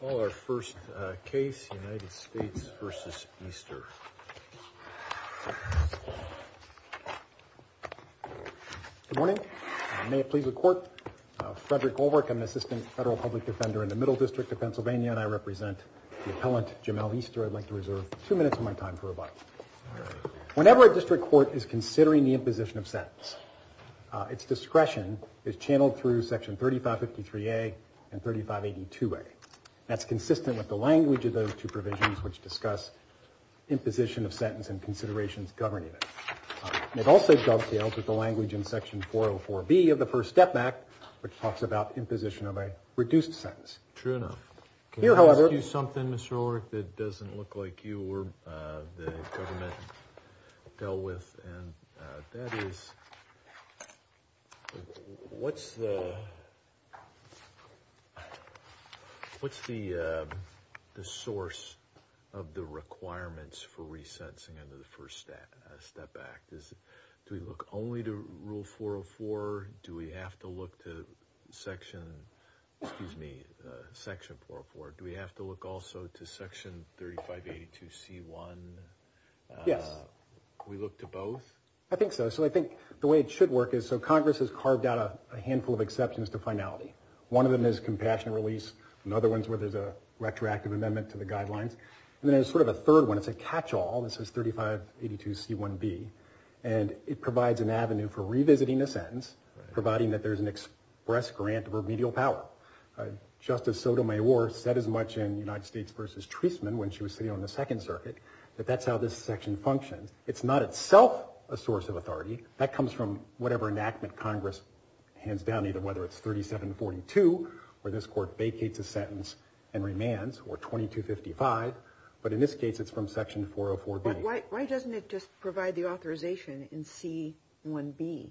Good morning. May it please the court. Frederick Goldberg, I'm an assistant federal public defender in the Middle District of Pennsylvania, and I represent the appellant Jamel Easter. I'd like to reserve two minutes of my time for rebuttal. Whenever a district court is considering the imposition of sentence, its discretion is channeled through section 3553A and 3582A. That's consistent with the language of those two provisions, which discuss imposition of sentence and considerations governing it. It also dovetails with the language in section 404B of the First Step Act, which talks about imposition of a reduced sentence. True enough. Can I ask you something, Mr. Ulrich, that doesn't look like you or the government dealt with, and that is what's the source of the requirements for resentencing under the First Step Act? Do we look only to rule 404? Do we have to look to section, excuse me, section 404? Do we have to look also to section 3582C1? Yes. We look to both? I think so. So I think the way it should work is, so Congress has carved out a handful of exceptions to finality. One of them is compassionate release. Another one's where there's a retroactive amendment to the guidelines. And then there's sort of a third one. It's a catch-all. This is 3582C1B, and it provides an avenue for revisiting the sentence, providing that there's an express grant of remedial power. Justice Sotomayor said as much in United States v. Treasman when she was sitting on the Second Circuit that that's how this section functions. It's not itself a source of authority. That comes from whatever enactment Congress hands down, either whether it's 3742, where this court vacates a sentence and remands, or 2255. But in this case, it's from section 404B. But why doesn't it just provide the authorization in C1B,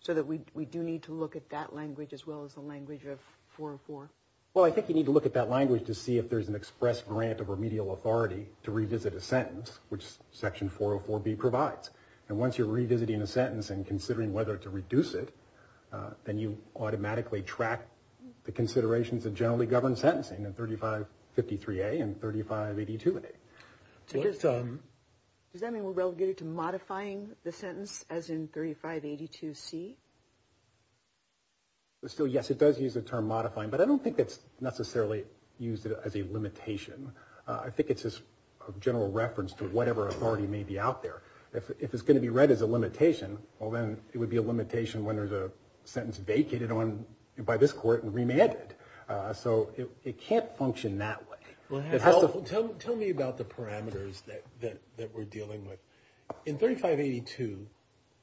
so that we do need to look at that language as well as the language of 404? Well, I think you need to look at that language to see if there's an express grant of remedial authority to revisit a sentence, which section 404B provides. And once you're revisiting a sentence and considering whether to reduce it, then you automatically track the considerations of generally governed sentencing in 3553A and 3582A. Does that mean we're relegated to modifying the sentence as in 3582C? Still, yes, it does use the term modifying, but I don't think it's necessarily used as a limitation. I think it's just a general reference to whatever authority may be out there. If it's going to be read as a limitation, well, then it would be a limitation when there's a sentence vacated on by this court and remanded. So it can't function that way. Tell me about the parameters that we're dealing with. In 3582,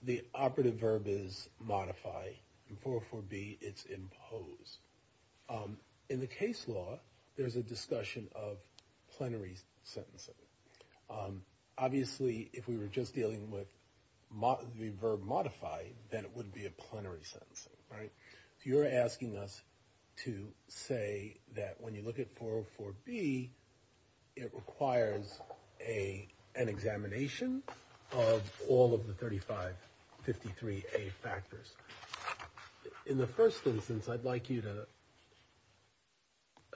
the operative verb is modify. In 404B, it's impose. In the case law, there's a discussion of plenary sentencing. Obviously, if we were just dealing with the verb modify, then it would be a plenary sentencing, right? So you're asking us to say that when you look at 404B, it requires an examination of all of the 3553A factors. In the first instance, I'd like you to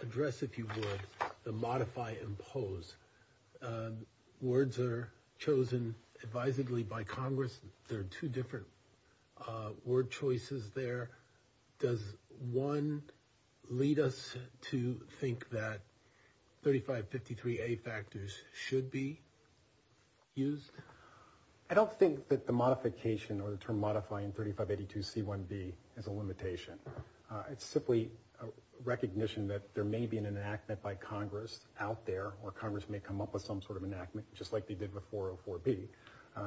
address, if you would, the modify-impose. Words are chosen advisedly by Congress. There are two different word choices there. Does one lead us to think that 3553A factors should be used? I don't think that the modification or the term modify in 3582C1B is a limitation. It's simply a recognition that there may be an enactment by Congress out there, or Congress may come up with some sort of enactment, just like they did with 404B,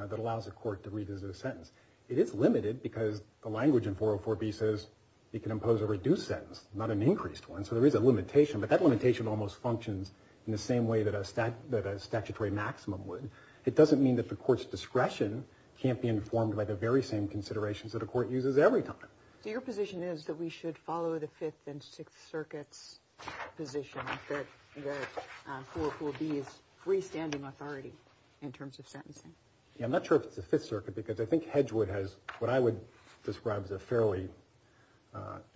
that allows a court to revisit a sentence. It is limited because the language in 404B says it can impose a reduced sentence, not an increased one. So there is a limitation, but that limitation almost functions in the same way that a statutory maximum would. It doesn't mean that the court's discretion can't be informed by the very same considerations that a court uses every time. So your position is that we should follow the Fifth and Sixth Circuit's position that 404B is freestanding authority in terms of sentencing? Yeah, I'm not sure if it's the Fifth Circuit, because I think Hedgewood has what I would describe as a fairly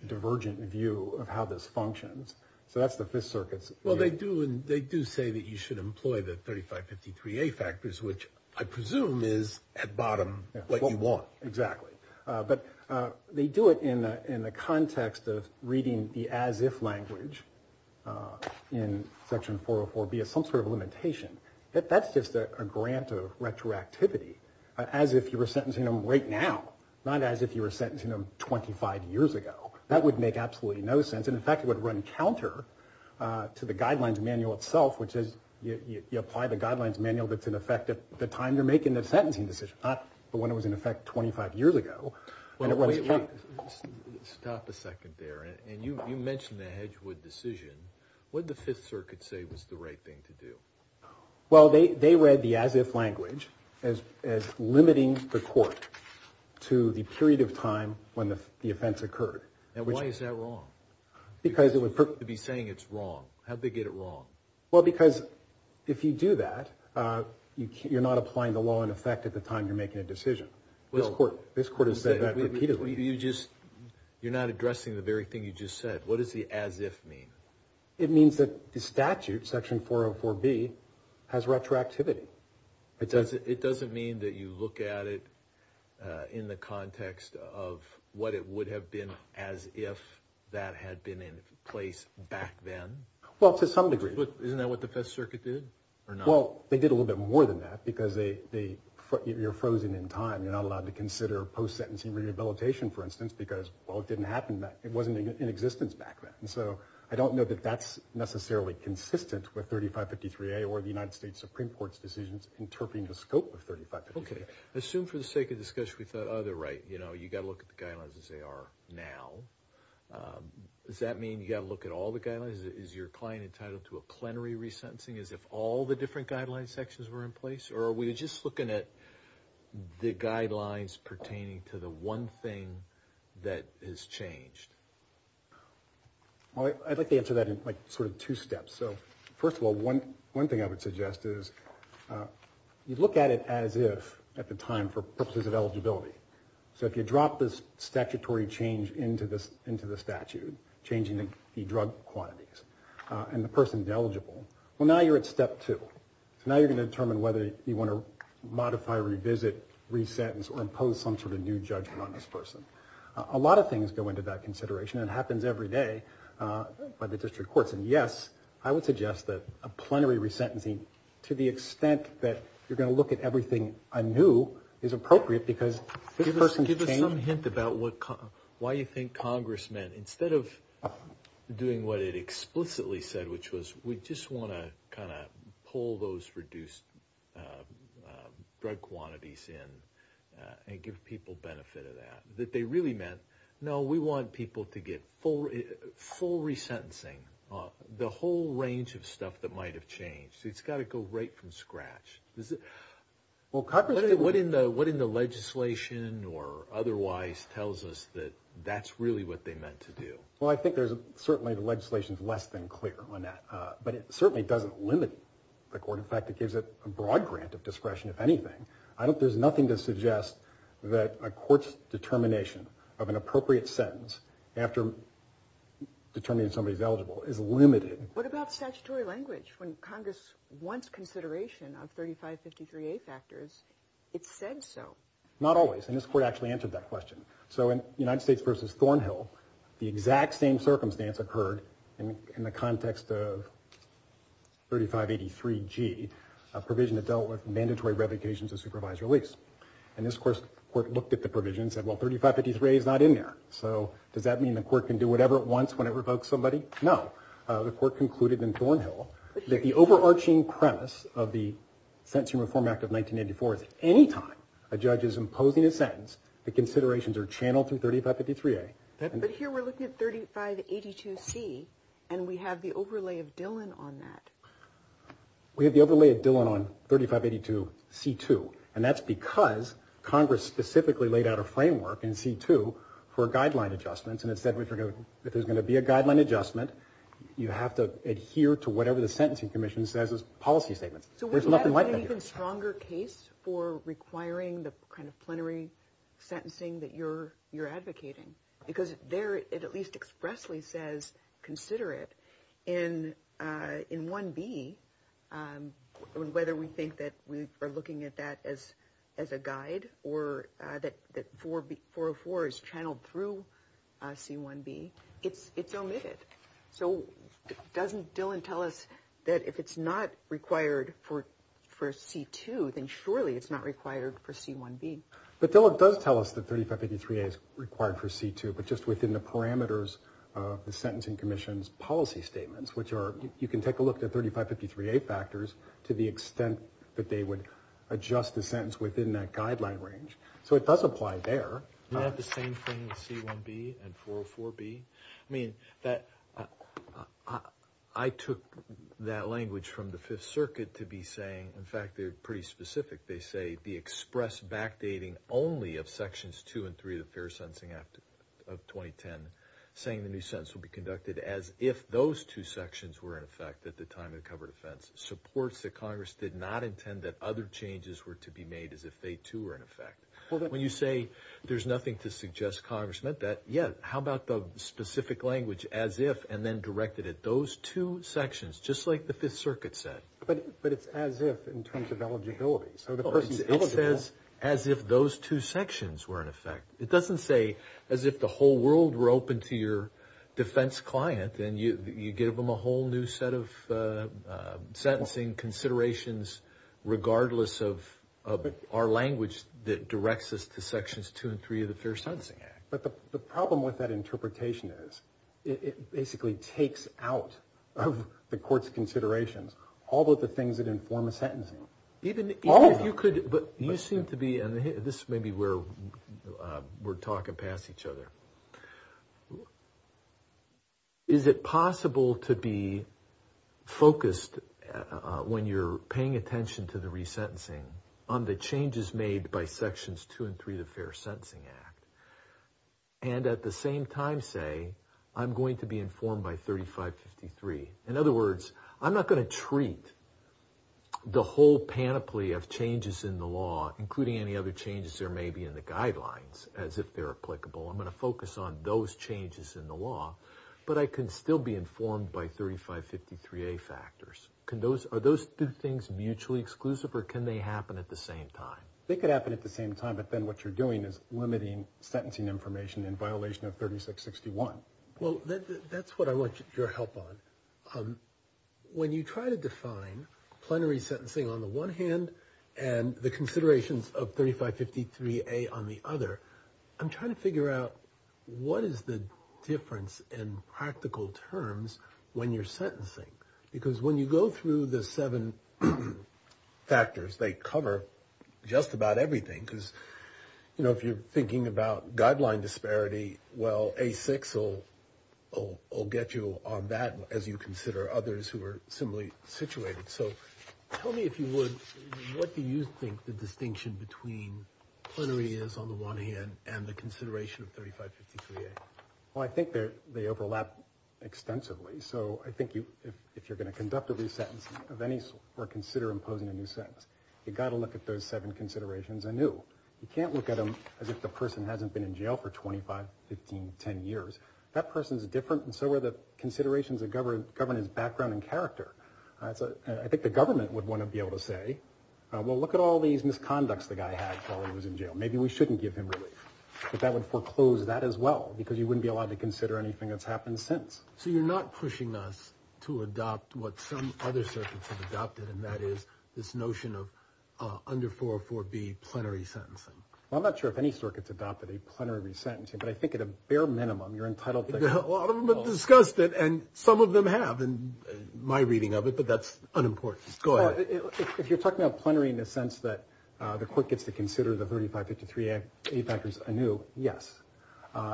divergent view of how this functions. So that's the Fifth Circuit's view. Well, they do say that you should employ the 3553A factors, which I presume is, at bottom, what you want. Exactly. But they do it in the context of reading the as-if language in Section 404B as some sort of limitation. That's just a grant of retroactivity, as if you were sentencing them right now, not as if you were sentencing them 25 years ago. That would make absolutely no sense. In fact, it would run counter to the Guidelines Manual itself, which is you apply the Guidelines Manual that's in effect at the time you're making the sentencing decision, not when it was in effect 25 years ago. Stop a second there. And you mentioned the Hedgewood decision. What did the Fifth Circuit say was the right thing to do? Well, they read the as-if language as limiting the court to the period of time when the offense occurred. And why is that wrong? To be saying it's wrong. How'd they get it wrong? Well, because if you do that, you're not applying the law in effect at the time you're making a decision. This Court has said that repeatedly. You're not addressing the very thing you just said. What does the as-if mean? It means that the statute, Section 404B, has retroactivity. It doesn't mean that you look at it in the context of what it would have been as if that had been in place back then? Well, to some degree. Isn't that what the Fifth Circuit did? Well, they did a little bit more than that because you're frozen in time. You're not allowed to consider post-sentencing rehabilitation, for instance, because, well, it didn't happen back then. It wasn't in existence back then. And so I don't know that that's necessarily consistent with 3553A or the United States Supreme Court's decisions interpreting the scope of 3553A. Okay. I assume for the sake of discussion, we thought, oh, they're right. You know, you've got to look at the guidelines as they are now. Does that mean you've got to look at all the guidelines? Is your client entitled to a plenary resentencing as if all the different guidelines sections were in place? Or are we just looking at the guidelines pertaining to the one thing that has changed? Well, I'd like to answer that in sort of two steps. So, first of all, one thing I would suggest is you look at it as if at the time for purposes of eligibility. So if you drop this statutory change into the statute, changing the drug quantities, and the person is eligible, well, now you're at step two. So now you're going to determine whether you want to modify, revisit, resentence, or impose some sort of new judgment on this person. A lot of things go into that consideration. It happens every day by the district courts. And yes, I would suggest that a plenary resentencing, to the extent that you're going to look at everything anew, is appropriate because this person changed. Give us some hint about why you think Congress meant, instead of doing what it explicitly said, which was we just want to kind of pull those reduced drug quantities in and give people benefit of that. No, we want people to get full resentencing, the whole range of stuff that might have changed. It's got to go right from scratch. What in the legislation or otherwise tells us that that's really what they meant to do? Well, I think certainly the legislation is less than clear on that. But it certainly doesn't limit the court. In fact, it gives it a broad grant of discretion, if anything. There's nothing to suggest that a court's determination of an appropriate sentence after determining somebody's eligible is limited. What about statutory language? When Congress wants consideration of 3553A factors, it said so. Not always. And this court actually answered that question. So in United States v. Thornhill, the exact same circumstance occurred in the context of 3583G, a provision that dealt with mandatory revocations of supervised release. And this court looked at the provision and said, well, 3553A is not in there. So does that mean the court can do whatever it wants when it revokes somebody? No. The court concluded in Thornhill that the overarching premise of the Sentencing Reform Act of 1984 is any time a judge is imposing a sentence, the considerations are channeled through 3553A. But here we're looking at 3582C, and we have the overlay of Dillon on that. We have the overlay of Dillon on 3582C2. And that's because Congress specifically laid out a framework in C2 for guideline adjustments, and it said if there's going to be a guideline adjustment, you have to adhere to whatever the Sentencing Commission says is policy statements. There's nothing like that here. So wouldn't that have been an even stronger case for requiring the kind of plenary sentencing that you're advocating? Because there it at least expressly says, consider it. And in 1B, whether we think that we are looking at that as a guide or that 404 is channeled through C1B, it's omitted. So doesn't Dillon tell us that if it's not required for C2, then surely it's not required for C1B? But Dillon does tell us that 3583A is required for C2, but just within the parameters of the Sentencing Commission's policy statements, which are you can take a look at 3553A factors to the extent that they would adjust the sentence within that guideline range. So it does apply there. Isn't that the same thing with C1B and 404B? I mean, I took that language from the Fifth Circuit to be saying, in fact, they're pretty specific. They say the express backdating only of Sections 2 and 3 of the Fair Sentencing Act of 2010, saying the new sentence will be conducted as if those two sections were in effect at the time of the covered offense, supports that Congress did not intend that other changes were to be made as if they, too, were in effect. When you say there's nothing to suggest Congress meant that, yeah, how about the specific language as if and then directed at those two sections, just like the Fifth Circuit said? But it's as if in terms of eligibility. So the person's eligible. It says as if those two sections were in effect. It doesn't say as if the whole world were open to your defense client and you give them a whole new set of sentencing considerations, regardless of our language that directs us to Sections 2 and 3 of the Fair Sentencing Act. But the problem with that interpretation is it basically takes out of the court's considerations all of the things that inform a sentencing. Even if you could, but you seem to be, and this may be where we're talking past each other. Is it possible to be focused when you're paying attention to the resentencing on the changes made by Sections 2 and 3 of the Fair Sentencing Act and at the same time say I'm going to be informed by 3553? In other words, I'm not going to treat the whole panoply of changes in the law, including any other changes there may be in the guidelines as if they're applicable. I'm going to focus on those changes in the law, but I can still be informed by 3553A factors. Are those two things mutually exclusive or can they happen at the same time? They could happen at the same time, but then what you're doing is limiting sentencing information in violation of 3661. Well, that's what I want your help on. When you try to define plenary sentencing on the one hand and the considerations of 3553A on the other, I'm trying to figure out what is the difference in practical terms when you're sentencing. Because when you go through the seven factors, they cover just about everything. Because, you know, if you're thinking about guideline disparity, well, A6 will get you on that as you consider others who are similarly situated. So tell me if you would, what do you think the distinction between plenary is on the one hand and the consideration of 3553A? Well, I think they overlap extensively. So I think if you're going to conduct a resentence of any sort or consider imposing a new sentence, you've got to look at those seven considerations anew. You can't look at them as if the person hasn't been in jail for 25, 15, 10 years. That person is different and so are the considerations that govern his background and character. I think the government would want to be able to say, well, look at all these misconducts the guy had while he was in jail. Maybe we shouldn't give him relief. But that would foreclose that as well, because you wouldn't be allowed to consider anything that's happened since. So you're not pushing us to adopt what some other circuits have adopted, and that is this notion of under 404B plenary sentencing. Well, I'm not sure if any circuits adopted a plenary resentencing, but I think at a bare minimum you're entitled to- A lot of them have discussed it and some of them have in my reading of it, but that's unimportant. Go ahead. If you're talking about plenary in the sense that the court gets to consider the 3553A factors anew, yes.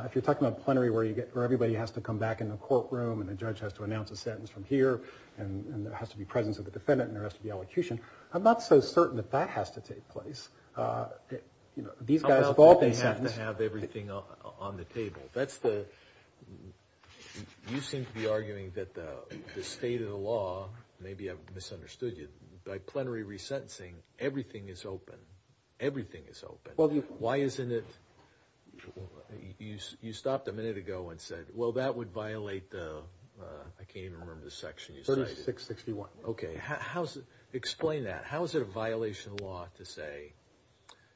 If you're talking about plenary where everybody has to come back in the courtroom and the judge has to announce a sentence from here and there has to be presence of the defendant and there has to be elocution, I'm not so certain that that has to take place. These guys have all been sentenced- How about they have to have everything on the table? You seem to be arguing that the state of the law- maybe I've misunderstood you- by plenary resentencing, everything is open. Everything is open. Why isn't it- you stopped a minute ago and said, well, that would violate the- I can't even remember the section you cited. 3661. Okay. Explain that. How is it a violation of the law to say,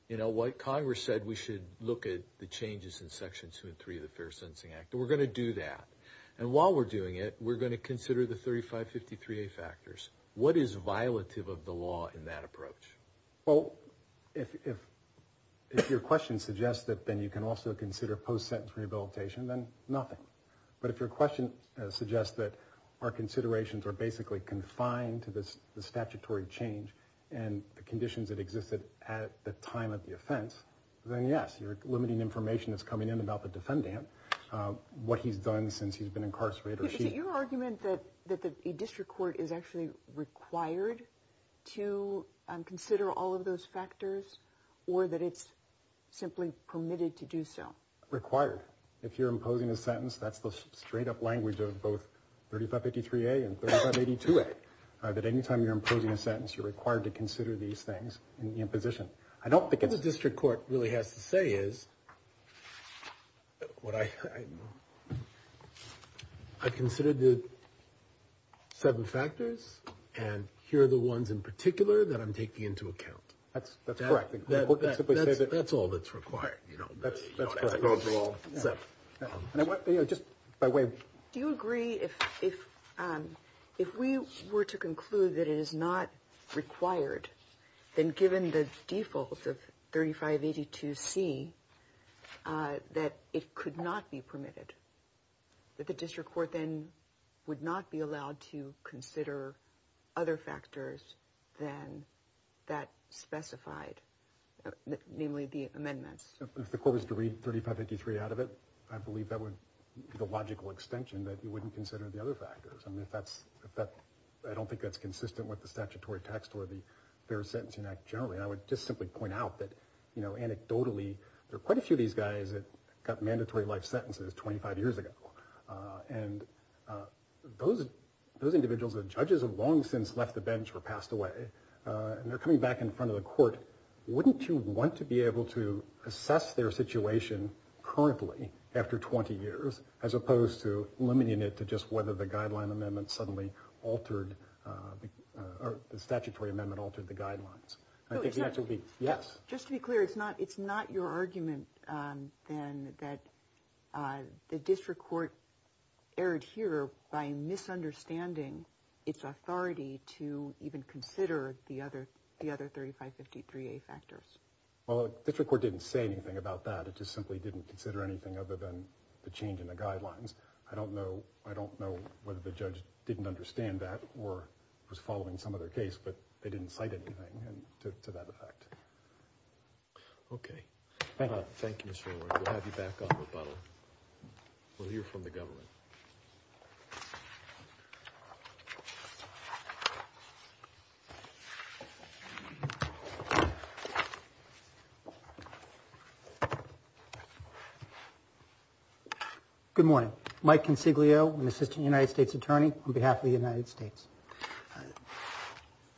you know, what Congress said we should look at the changes in Section 2 and 3 of the Fair Sentencing Act. We're going to do that. And while we're doing it, we're going to consider the 3553A factors. What is violative of the law in that approach? Well, if your question suggests that then you can also consider post-sentence rehabilitation, then nothing. But if your question suggests that our considerations are basically confined to the statutory change and the conditions that existed at the time of the offense, then yes, you're limiting information that's coming in about the defendant, what he's done since he's been incarcerated. Is it your argument that the district court is actually required to consider all of those factors or that it's simply permitted to do so? Required. If you're imposing a sentence, that's the straight-up language of both 3553A and 3582A, that any time you're imposing a sentence, you're required to consider these things in position. I don't think it's... What the district court really has to say is, I've considered the seven factors, and here are the ones in particular that I'm taking into account. That's correct. That's all that's required, you know. That's correct. That's the overall set. Just by way of... Do you agree if we were to conclude that it is not required, then given the default of 3582C, that it could not be permitted, that the district court then would not be allowed to consider other factors than that specified, namely the amendments? If the court was to read 3583 out of it, I believe that would be the logical extension that you wouldn't consider the other factors. I mean, if that's... I don't think that's consistent with the statutory text or the Fair Sentencing Act generally. I would just simply point out that, you know, anecdotally, there are quite a few of these guys that got mandatory life sentences 25 years ago, and those individuals are judges who have long since left the bench or passed away, and they're coming back in front of the court. Wouldn't you want to be able to assess their situation currently after 20 years as opposed to limiting it to just whether the guideline amendment suddenly altered... or the statutory amendment altered the guidelines? I think the answer would be yes. Just to be clear, it's not your argument then that the district court erred here by misunderstanding its authority to even consider the other 3553A factors. Well, the district court didn't say anything about that. It just simply didn't consider anything other than the change in the guidelines. I don't know whether the judge didn't understand that or was following some other case, but they didn't cite anything to that effect. Okay. Thank you. Thank you, Mr. O'Rourke. We'll have you back on rebuttal. We'll hear from the government. Good morning. Mike Consiglio, an assistant United States attorney on behalf of the United States.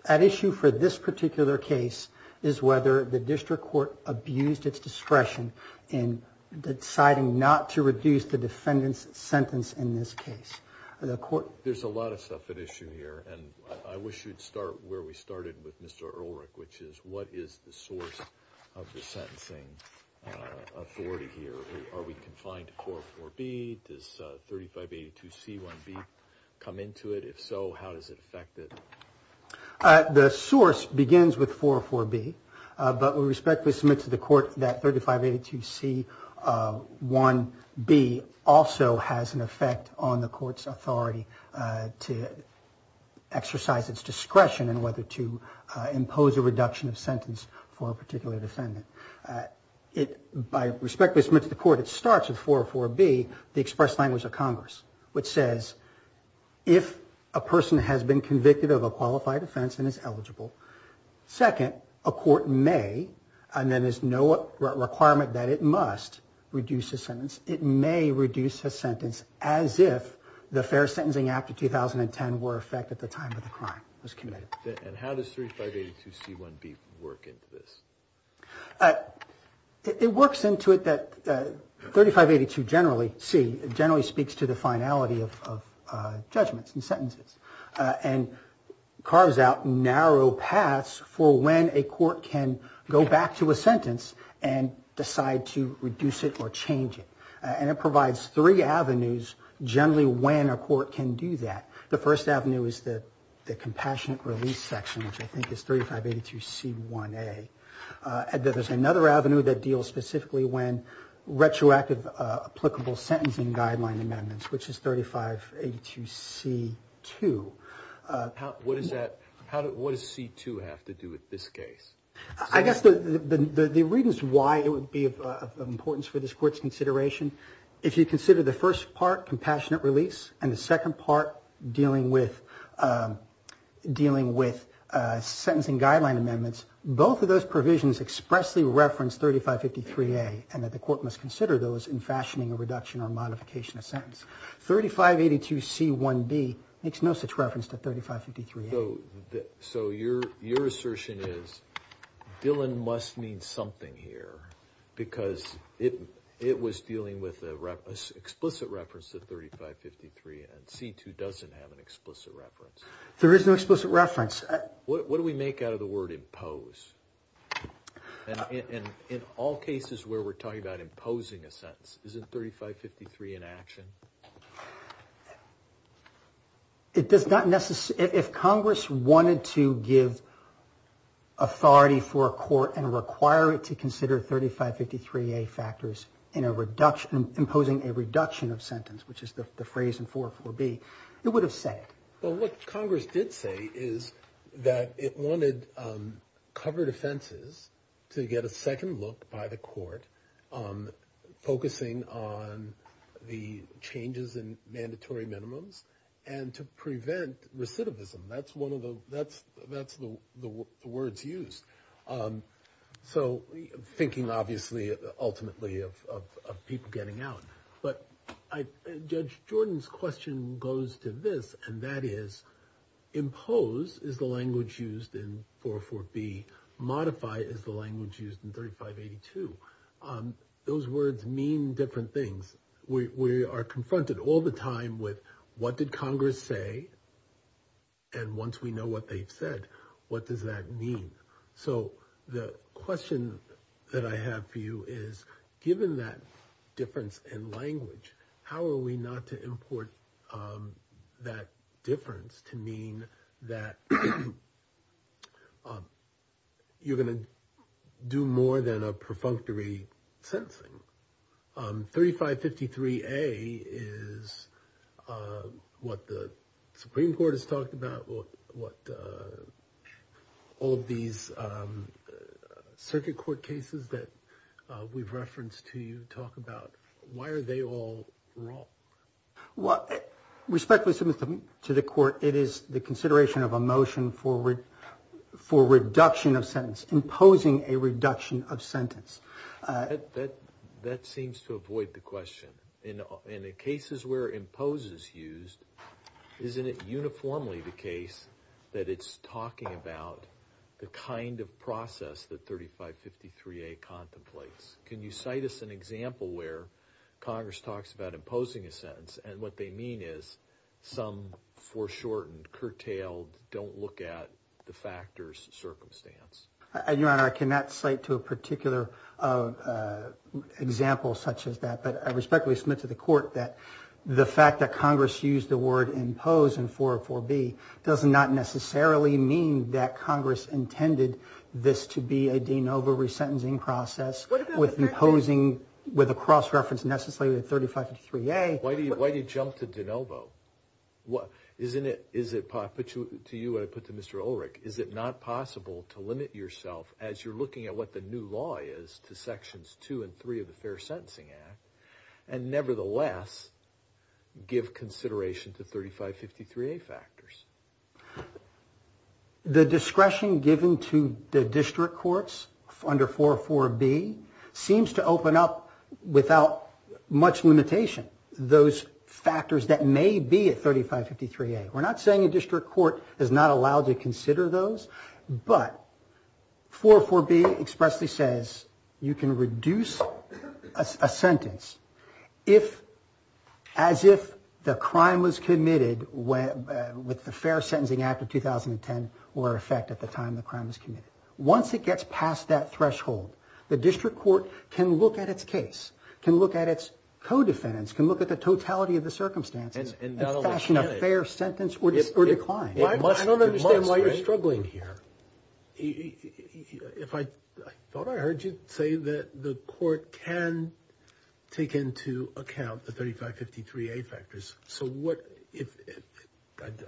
At issue for this particular case is whether the district court abused its discretion in deciding not to reduce the defendant's sentence in this case. There's a lot of stuff at issue here, and I wish you'd start where we started with Mr. O'Rourke, which is what is the source of the sentencing authority here? Are we confined to 404B? Does 3582C1B come into it? If so, how does it affect it? The source begins with 404B, but we respectfully submit to the court that 3582C1B also has an effect on the court's authority to exercise its discretion in whether to impose a reduction of sentence for a particular defendant. By respectfully submitting to the court, it starts with 404B, the express language of Congress, which says if a person has been convicted of a qualified offense and is eligible, second, a court may, and then there's no requirement that it must, reduce a sentence. It may reduce a sentence as if the fair sentencing act of 2010 were in effect at the time of the crime. And how does 3582C1B work into this? It works into it that 3582C generally speaks to the finality of judgments and sentences and carves out narrow paths for when a court can go back to a sentence and decide to reduce it or change it. And it provides three avenues generally when a court can do that. The first avenue is the compassionate release section, which I think is 3582C1A. There's another avenue that deals specifically when retroactive applicable sentencing guideline amendments, which is 3582C2. What does that, what does C2 have to do with this case? I guess the reasons why it would be of importance for this court's consideration, if you consider the first part, compassionate release, and the second part dealing with sentencing guideline amendments, both of those provisions expressly reference 3553A and that the court must consider those in fashioning a reduction or modification of sentence. 3582C1B makes no such reference to 3553A. So your assertion is Dillon must mean something here because it was dealing with an explicit reference to 3553 and C2 doesn't have an explicit reference. There is no explicit reference. What do we make out of the word impose? In all cases where we're talking about imposing a sentence, isn't 3553 in action? It does not necessarily, if Congress wanted to give authority for a court and require it to consider 3553A factors in a reduction, imposing a reduction of sentence, which is the phrase in 404B, it would have said it. Well, what Congress did say is that it wanted covered offenses to get a second look by the court focusing on the changes in mandatory minimums and to prevent recidivism. That's the words used. So thinking obviously ultimately of people getting out. But Judge Jordan's question goes to this, and that is impose is the language used in 404B, modify is the language used in 3582. Those words mean different things. We are confronted all the time with what did Congress say? And once we know what they've said, what does that mean? So the question that I have for you is, given that difference in language, how are we not to import that difference to mean that you're going to do more than a perfunctory sentencing? 3553A is what the Supreme Court has talked about, what all of these circuit court cases that we've referenced to you talk about. Why are they all wrong? Respectfully submit to the court, it is the consideration of a motion for reduction of sentence, imposing a reduction of sentence. That seems to avoid the question. In the cases where impose is used, isn't it uniformly the case that it's talking about the kind of process that 3553A contemplates? Can you cite us an example where Congress talks about imposing a sentence, and what they mean is some foreshortened, curtailed, don't-look-at-the-factors circumstance? Your Honor, I cannot cite to a particular example such as that, but I respectfully submit to the court that the fact that Congress used the word impose in 404B does not necessarily mean that Congress intended this to be a de novo resentencing process with imposing, with a cross-reference necessarily to 3553A. Why do you jump to de novo? I put to you what I put to Mr. Ulrich. Is it not possible to limit yourself as you're looking at what the new law is to Sections 2 and 3 of the Fair Sentencing Act, and nevertheless give consideration to 3553A factors? The discretion given to the district courts under 404B seems to open up without much limitation those factors that may be at 3553A. We're not saying a district court is not allowed to consider those, but 404B expressly says you can reduce a sentence as if the crime was committed with the Fair Sentencing Act of 2010 were in effect at the time the crime was committed. Once it gets past that threshold, the district court can look at its case, can look at its co-defendants, can look at the totality of the circumstances and fashion a fair sentence or decline. I don't understand why you're struggling here. I thought I heard you say that the court can take into account the 3553A factors.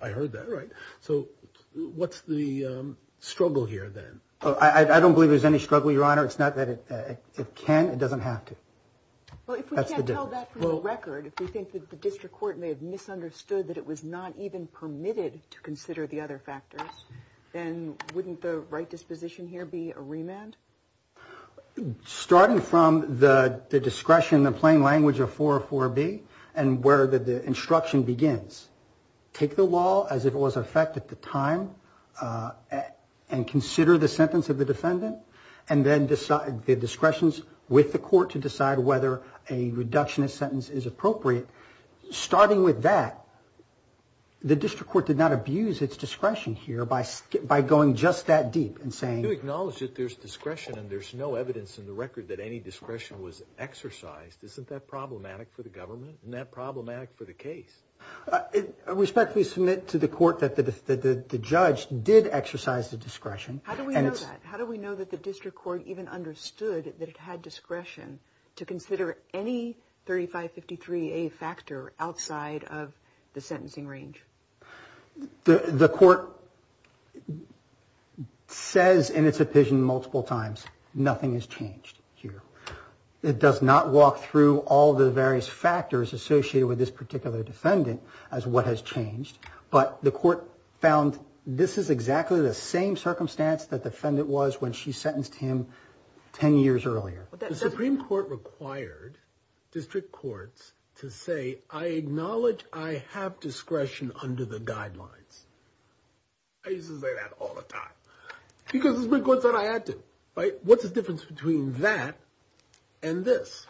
I heard that right. So what's the struggle here then? I don't believe there's any struggle, Your Honor. It's not that it can, it doesn't have to. Well, if we can't tell that from the record, if we think that the district court may have misunderstood that it was not even permitted to consider the other factors, then wouldn't the right disposition here be a remand? Starting from the discretion, the plain language of 404B and where the instruction begins, take the law as it was in effect at the time and consider the sentence of the defendant and then decide the discretions with the court to decide whether a reduction of sentence is appropriate. Starting with that, the district court did not abuse its discretion here by going just that deep and saying... You acknowledge that there's discretion and there's no evidence in the record that any discretion was exercised. Isn't that problematic for the government? Isn't that problematic for the case? Respectfully submit to the court that the judge did exercise the discretion. How do we know that? How do we know that the district court even understood that it had discretion to consider any 3553A factor outside of the sentencing range? The court says in its opinion multiple times, nothing has changed here. It does not walk through all the various factors associated with this particular defendant as what has changed, but the court found this is exactly the same circumstance that the defendant was when she sentenced him 10 years earlier. The Supreme Court required district courts to say, I acknowledge I have discretion under the guidelines. I used to say that all the time because the Supreme Court said I had to. What's the difference between that and this?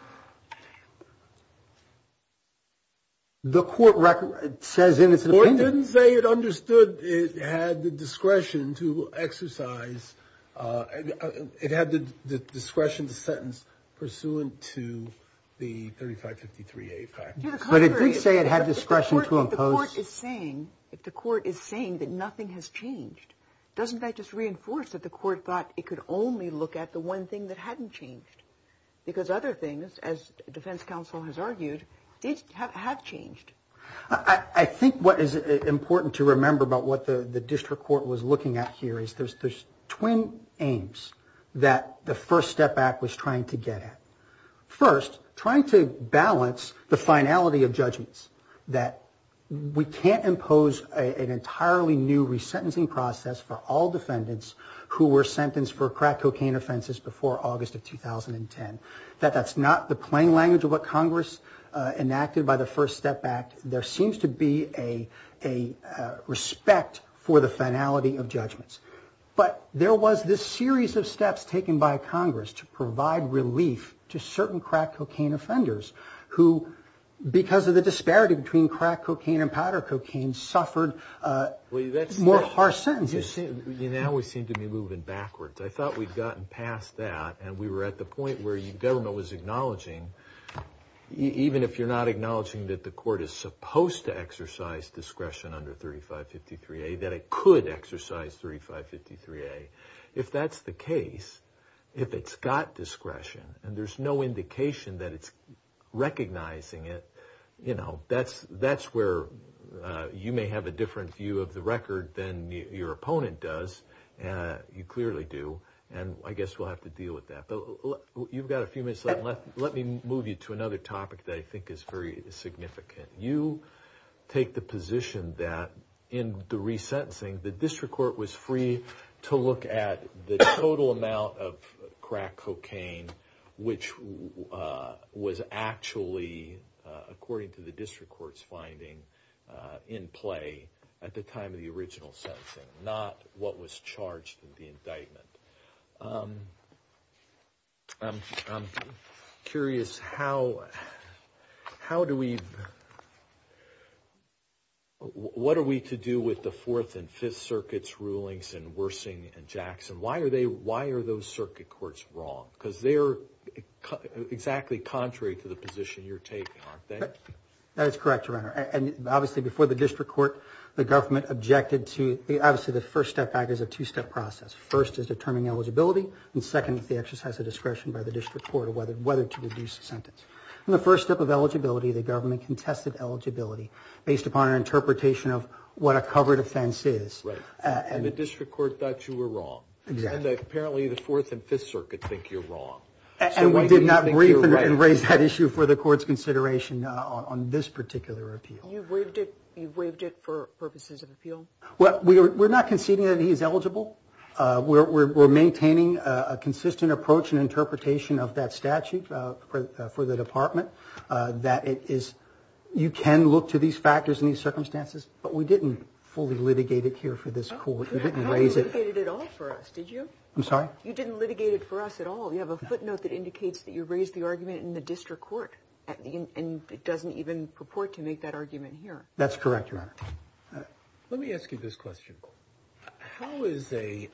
The court record says in its opinion. The court didn't say it understood it had the discretion to exercise. It had the discretion to sentence pursuant to the 3553A factor. But it did say it had discretion to impose. If the court is saying that nothing has changed, doesn't that just reinforce that the court thought it could only look at the one thing that hadn't changed? Because other things, as defense counsel has argued, have changed. I think what is important to remember about what the district court was looking at here is there's twin aims that the First Step Act was trying to get at. First, trying to balance the finality of judgments that we can't impose an entirely new resentencing process for all defendants who were sentenced for crack cocaine offenses before August of 2010. That that's not the plain language of what Congress enacted by the First Step Act. There seems to be a respect for the finality of judgments. But there was this series of steps taken by Congress to provide relief to certain crack cocaine offenders who, because of the disparity between crack cocaine and powder cocaine, suffered more harsh sentences. Now we seem to be moving backwards. I thought we'd gotten past that, and we were at the point where the government was acknowledging, even if you're not acknowledging that the court is supposed to exercise discretion under 3553A, that it could exercise 3553A. If that's the case, if it's got discretion, and there's no indication that it's recognizing it, that's where you may have a different view of the record than your opponent does. You clearly do. And I guess we'll have to deal with that. You've got a few minutes left. Let me move you to another topic that I think is very significant. You take the position that, in the resentencing, the district court was free to look at the total amount of crack cocaine which was actually, according to the district court's finding, in play at the time of the original sentencing, not what was charged in the indictment. I'm curious, what are we to do with the Fourth and Fifth Circuits' rulings in Wersing and Jackson? Why are those circuit courts wrong? Because they're exactly contrary to the position you're taking, aren't they? That is correct, Your Honor. And obviously, before the district court, the government objected to – obviously, the first step back is a two-step process. First is determining eligibility, and second is the exercise of discretion by the district court on whether to reduce the sentence. In the first step of eligibility, the government contested eligibility based upon an interpretation of what a covered offense is. Right. And the district court thought you were wrong. Exactly. And apparently, the Fourth and Fifth Circuits think you're wrong. And we did not agree and raise that issue for the court's consideration on this particular appeal. You waived it for purposes of appeal? Well, we're not conceding that he is eligible. We're maintaining a consistent approach and interpretation of that statute for the department, that it is – you can look to these factors and these circumstances, but we didn't fully litigate it here for this court. You didn't raise it. You didn't litigate it at all for us, did you? I'm sorry? You didn't litigate it for us at all. You have a footnote that indicates that you raised the argument in the district court, and it doesn't even purport to make that argument here. That's correct, Your Honor. Let me ask you this question. How is a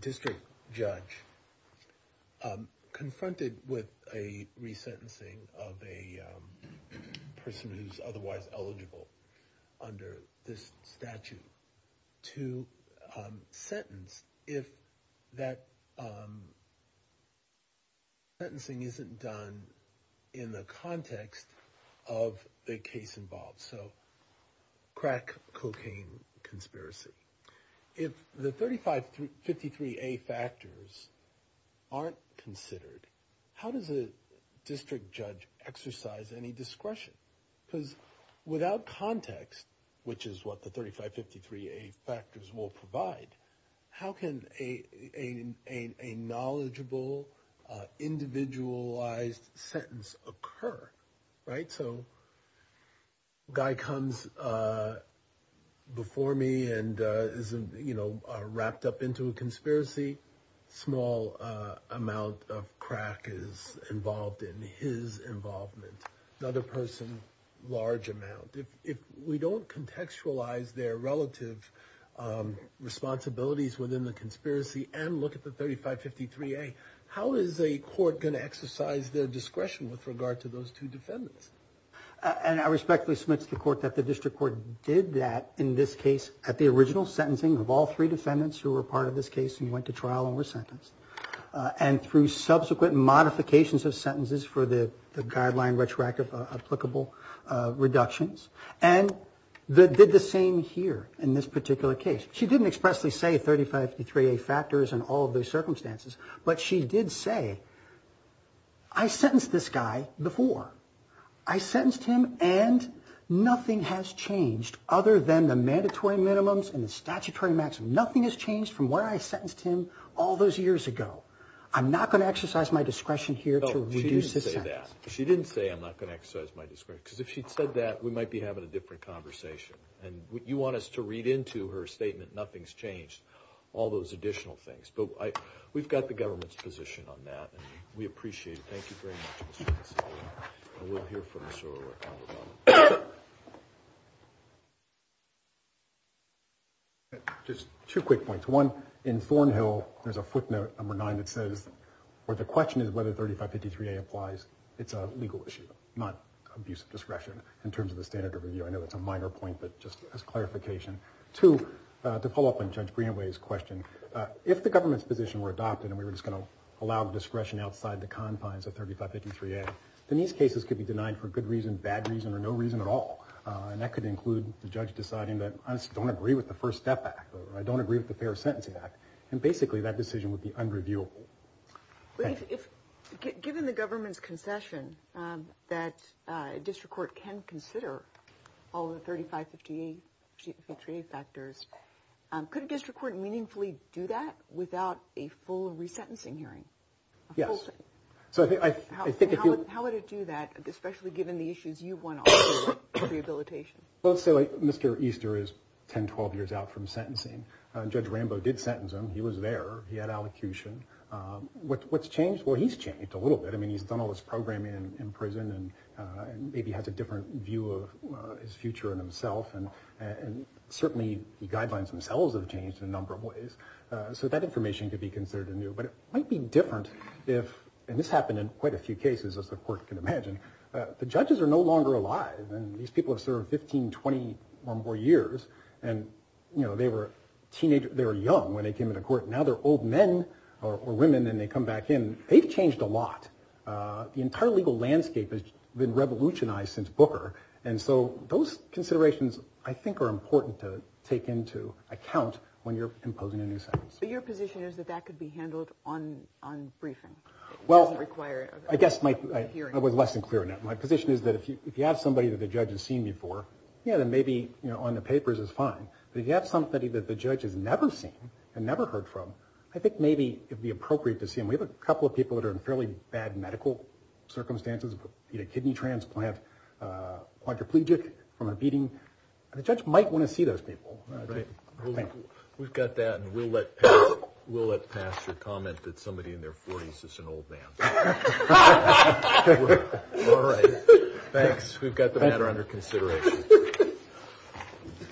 district judge confronted with a resentencing of a person who's otherwise eligible under this statute to sentence if that sentencing isn't done in the context of the case involved? So crack cocaine conspiracy. If the 3553A factors aren't considered, how does a district judge exercise any discretion? Because without context, which is what the 3553A factors will provide, how can a knowledgeable, individualized sentence occur, right? So a guy comes before me and is wrapped up into a conspiracy. A small amount of crack is involved in his involvement. Another person, a large amount. If we don't contextualize their relative responsibilities within the conspiracy and look at the 3553A, how is a court going to exercise their discretion with regard to those two defendants? And I respectfully submit to the court that the district court did that in this case at the original sentencing of all three defendants who were part of this case and went to trial and were sentenced, and through subsequent modifications of sentences for the guideline retroactive applicable reductions, and did the same here in this particular case. She didn't expressly say 3553A factors and all of those circumstances, but she did say, I sentenced this guy before. I sentenced him, and nothing has changed other than the mandatory minimums and the statutory maximum. Nothing has changed from where I sentenced him all those years ago. I'm not going to exercise my discretion here to reduce this sentence. No, she didn't say that. She didn't say, I'm not going to exercise my discretion. Because if she'd said that, we might be having a different conversation. And you want us to read into her statement, nothing's changed, all those additional things. But we've got the government's position on that, and we appreciate it. Thank you very much, Mr. Consolidate. And we'll hear from Ms. Sorrell right now about it. Just two quick points. One, in Thornhill there's a footnote, number nine, that says, where the question is whether 3553A applies, it's a legal issue, not abuse of discretion in terms of the standard of review. I know that's a minor point, but just as clarification. Two, to follow up on Judge Greenway's question, if the government's position were adopted, and we were just going to allow discretion outside the confines of 3553A, then these cases could be denied for good reason, bad reason, or no reason at all. And that could include the judge deciding that I just don't agree with the First Step Act, or I don't agree with the Fair Sentencing Act. And basically that decision would be unreviewable. Given the government's concession that a district court can consider all of the 3553A factors, could a district court meaningfully do that without a full resentencing hearing? Yes. How would it do that, especially given the issues you've won over with rehabilitation? Well, let's say Mr. Easter is 10, 12 years out from sentencing. Judge Rambo did sentence him. He was there. He had allocution. What's changed? Well, he's changed a little bit. I mean, he's done all this programming in prison and maybe has a different view of his future and himself. And certainly the guidelines themselves have changed in a number of ways. So that information could be considered anew. But it might be different if, and this happened in quite a few cases, as the court can imagine, the judges are no longer alive. And these people have served 15, 20 or more years. And, you know, they were teenagers. They were young when they came into court. Now they're old men or women and they come back in. They've changed a lot. The entire legal landscape has been revolutionized since Booker. And so those considerations I think are important to take into account when you're imposing a new sentence. But your position is that that could be handled on briefing? Well, I guess I was less than clear on that. My position is that if you have somebody that the judge has seen before, yeah, then maybe on the papers it's fine. But if you have somebody that the judge has never seen and never heard from, I think maybe it would be appropriate to see them. We have a couple of people that are in fairly bad medical circumstances, you know, kidney transplant, quadriplegic, from a beating. The judge might want to see those people. All right. We've got that and we'll let Pastor comment that somebody in their 40s is an old man. All right. Thanks. We've got the matter under consideration.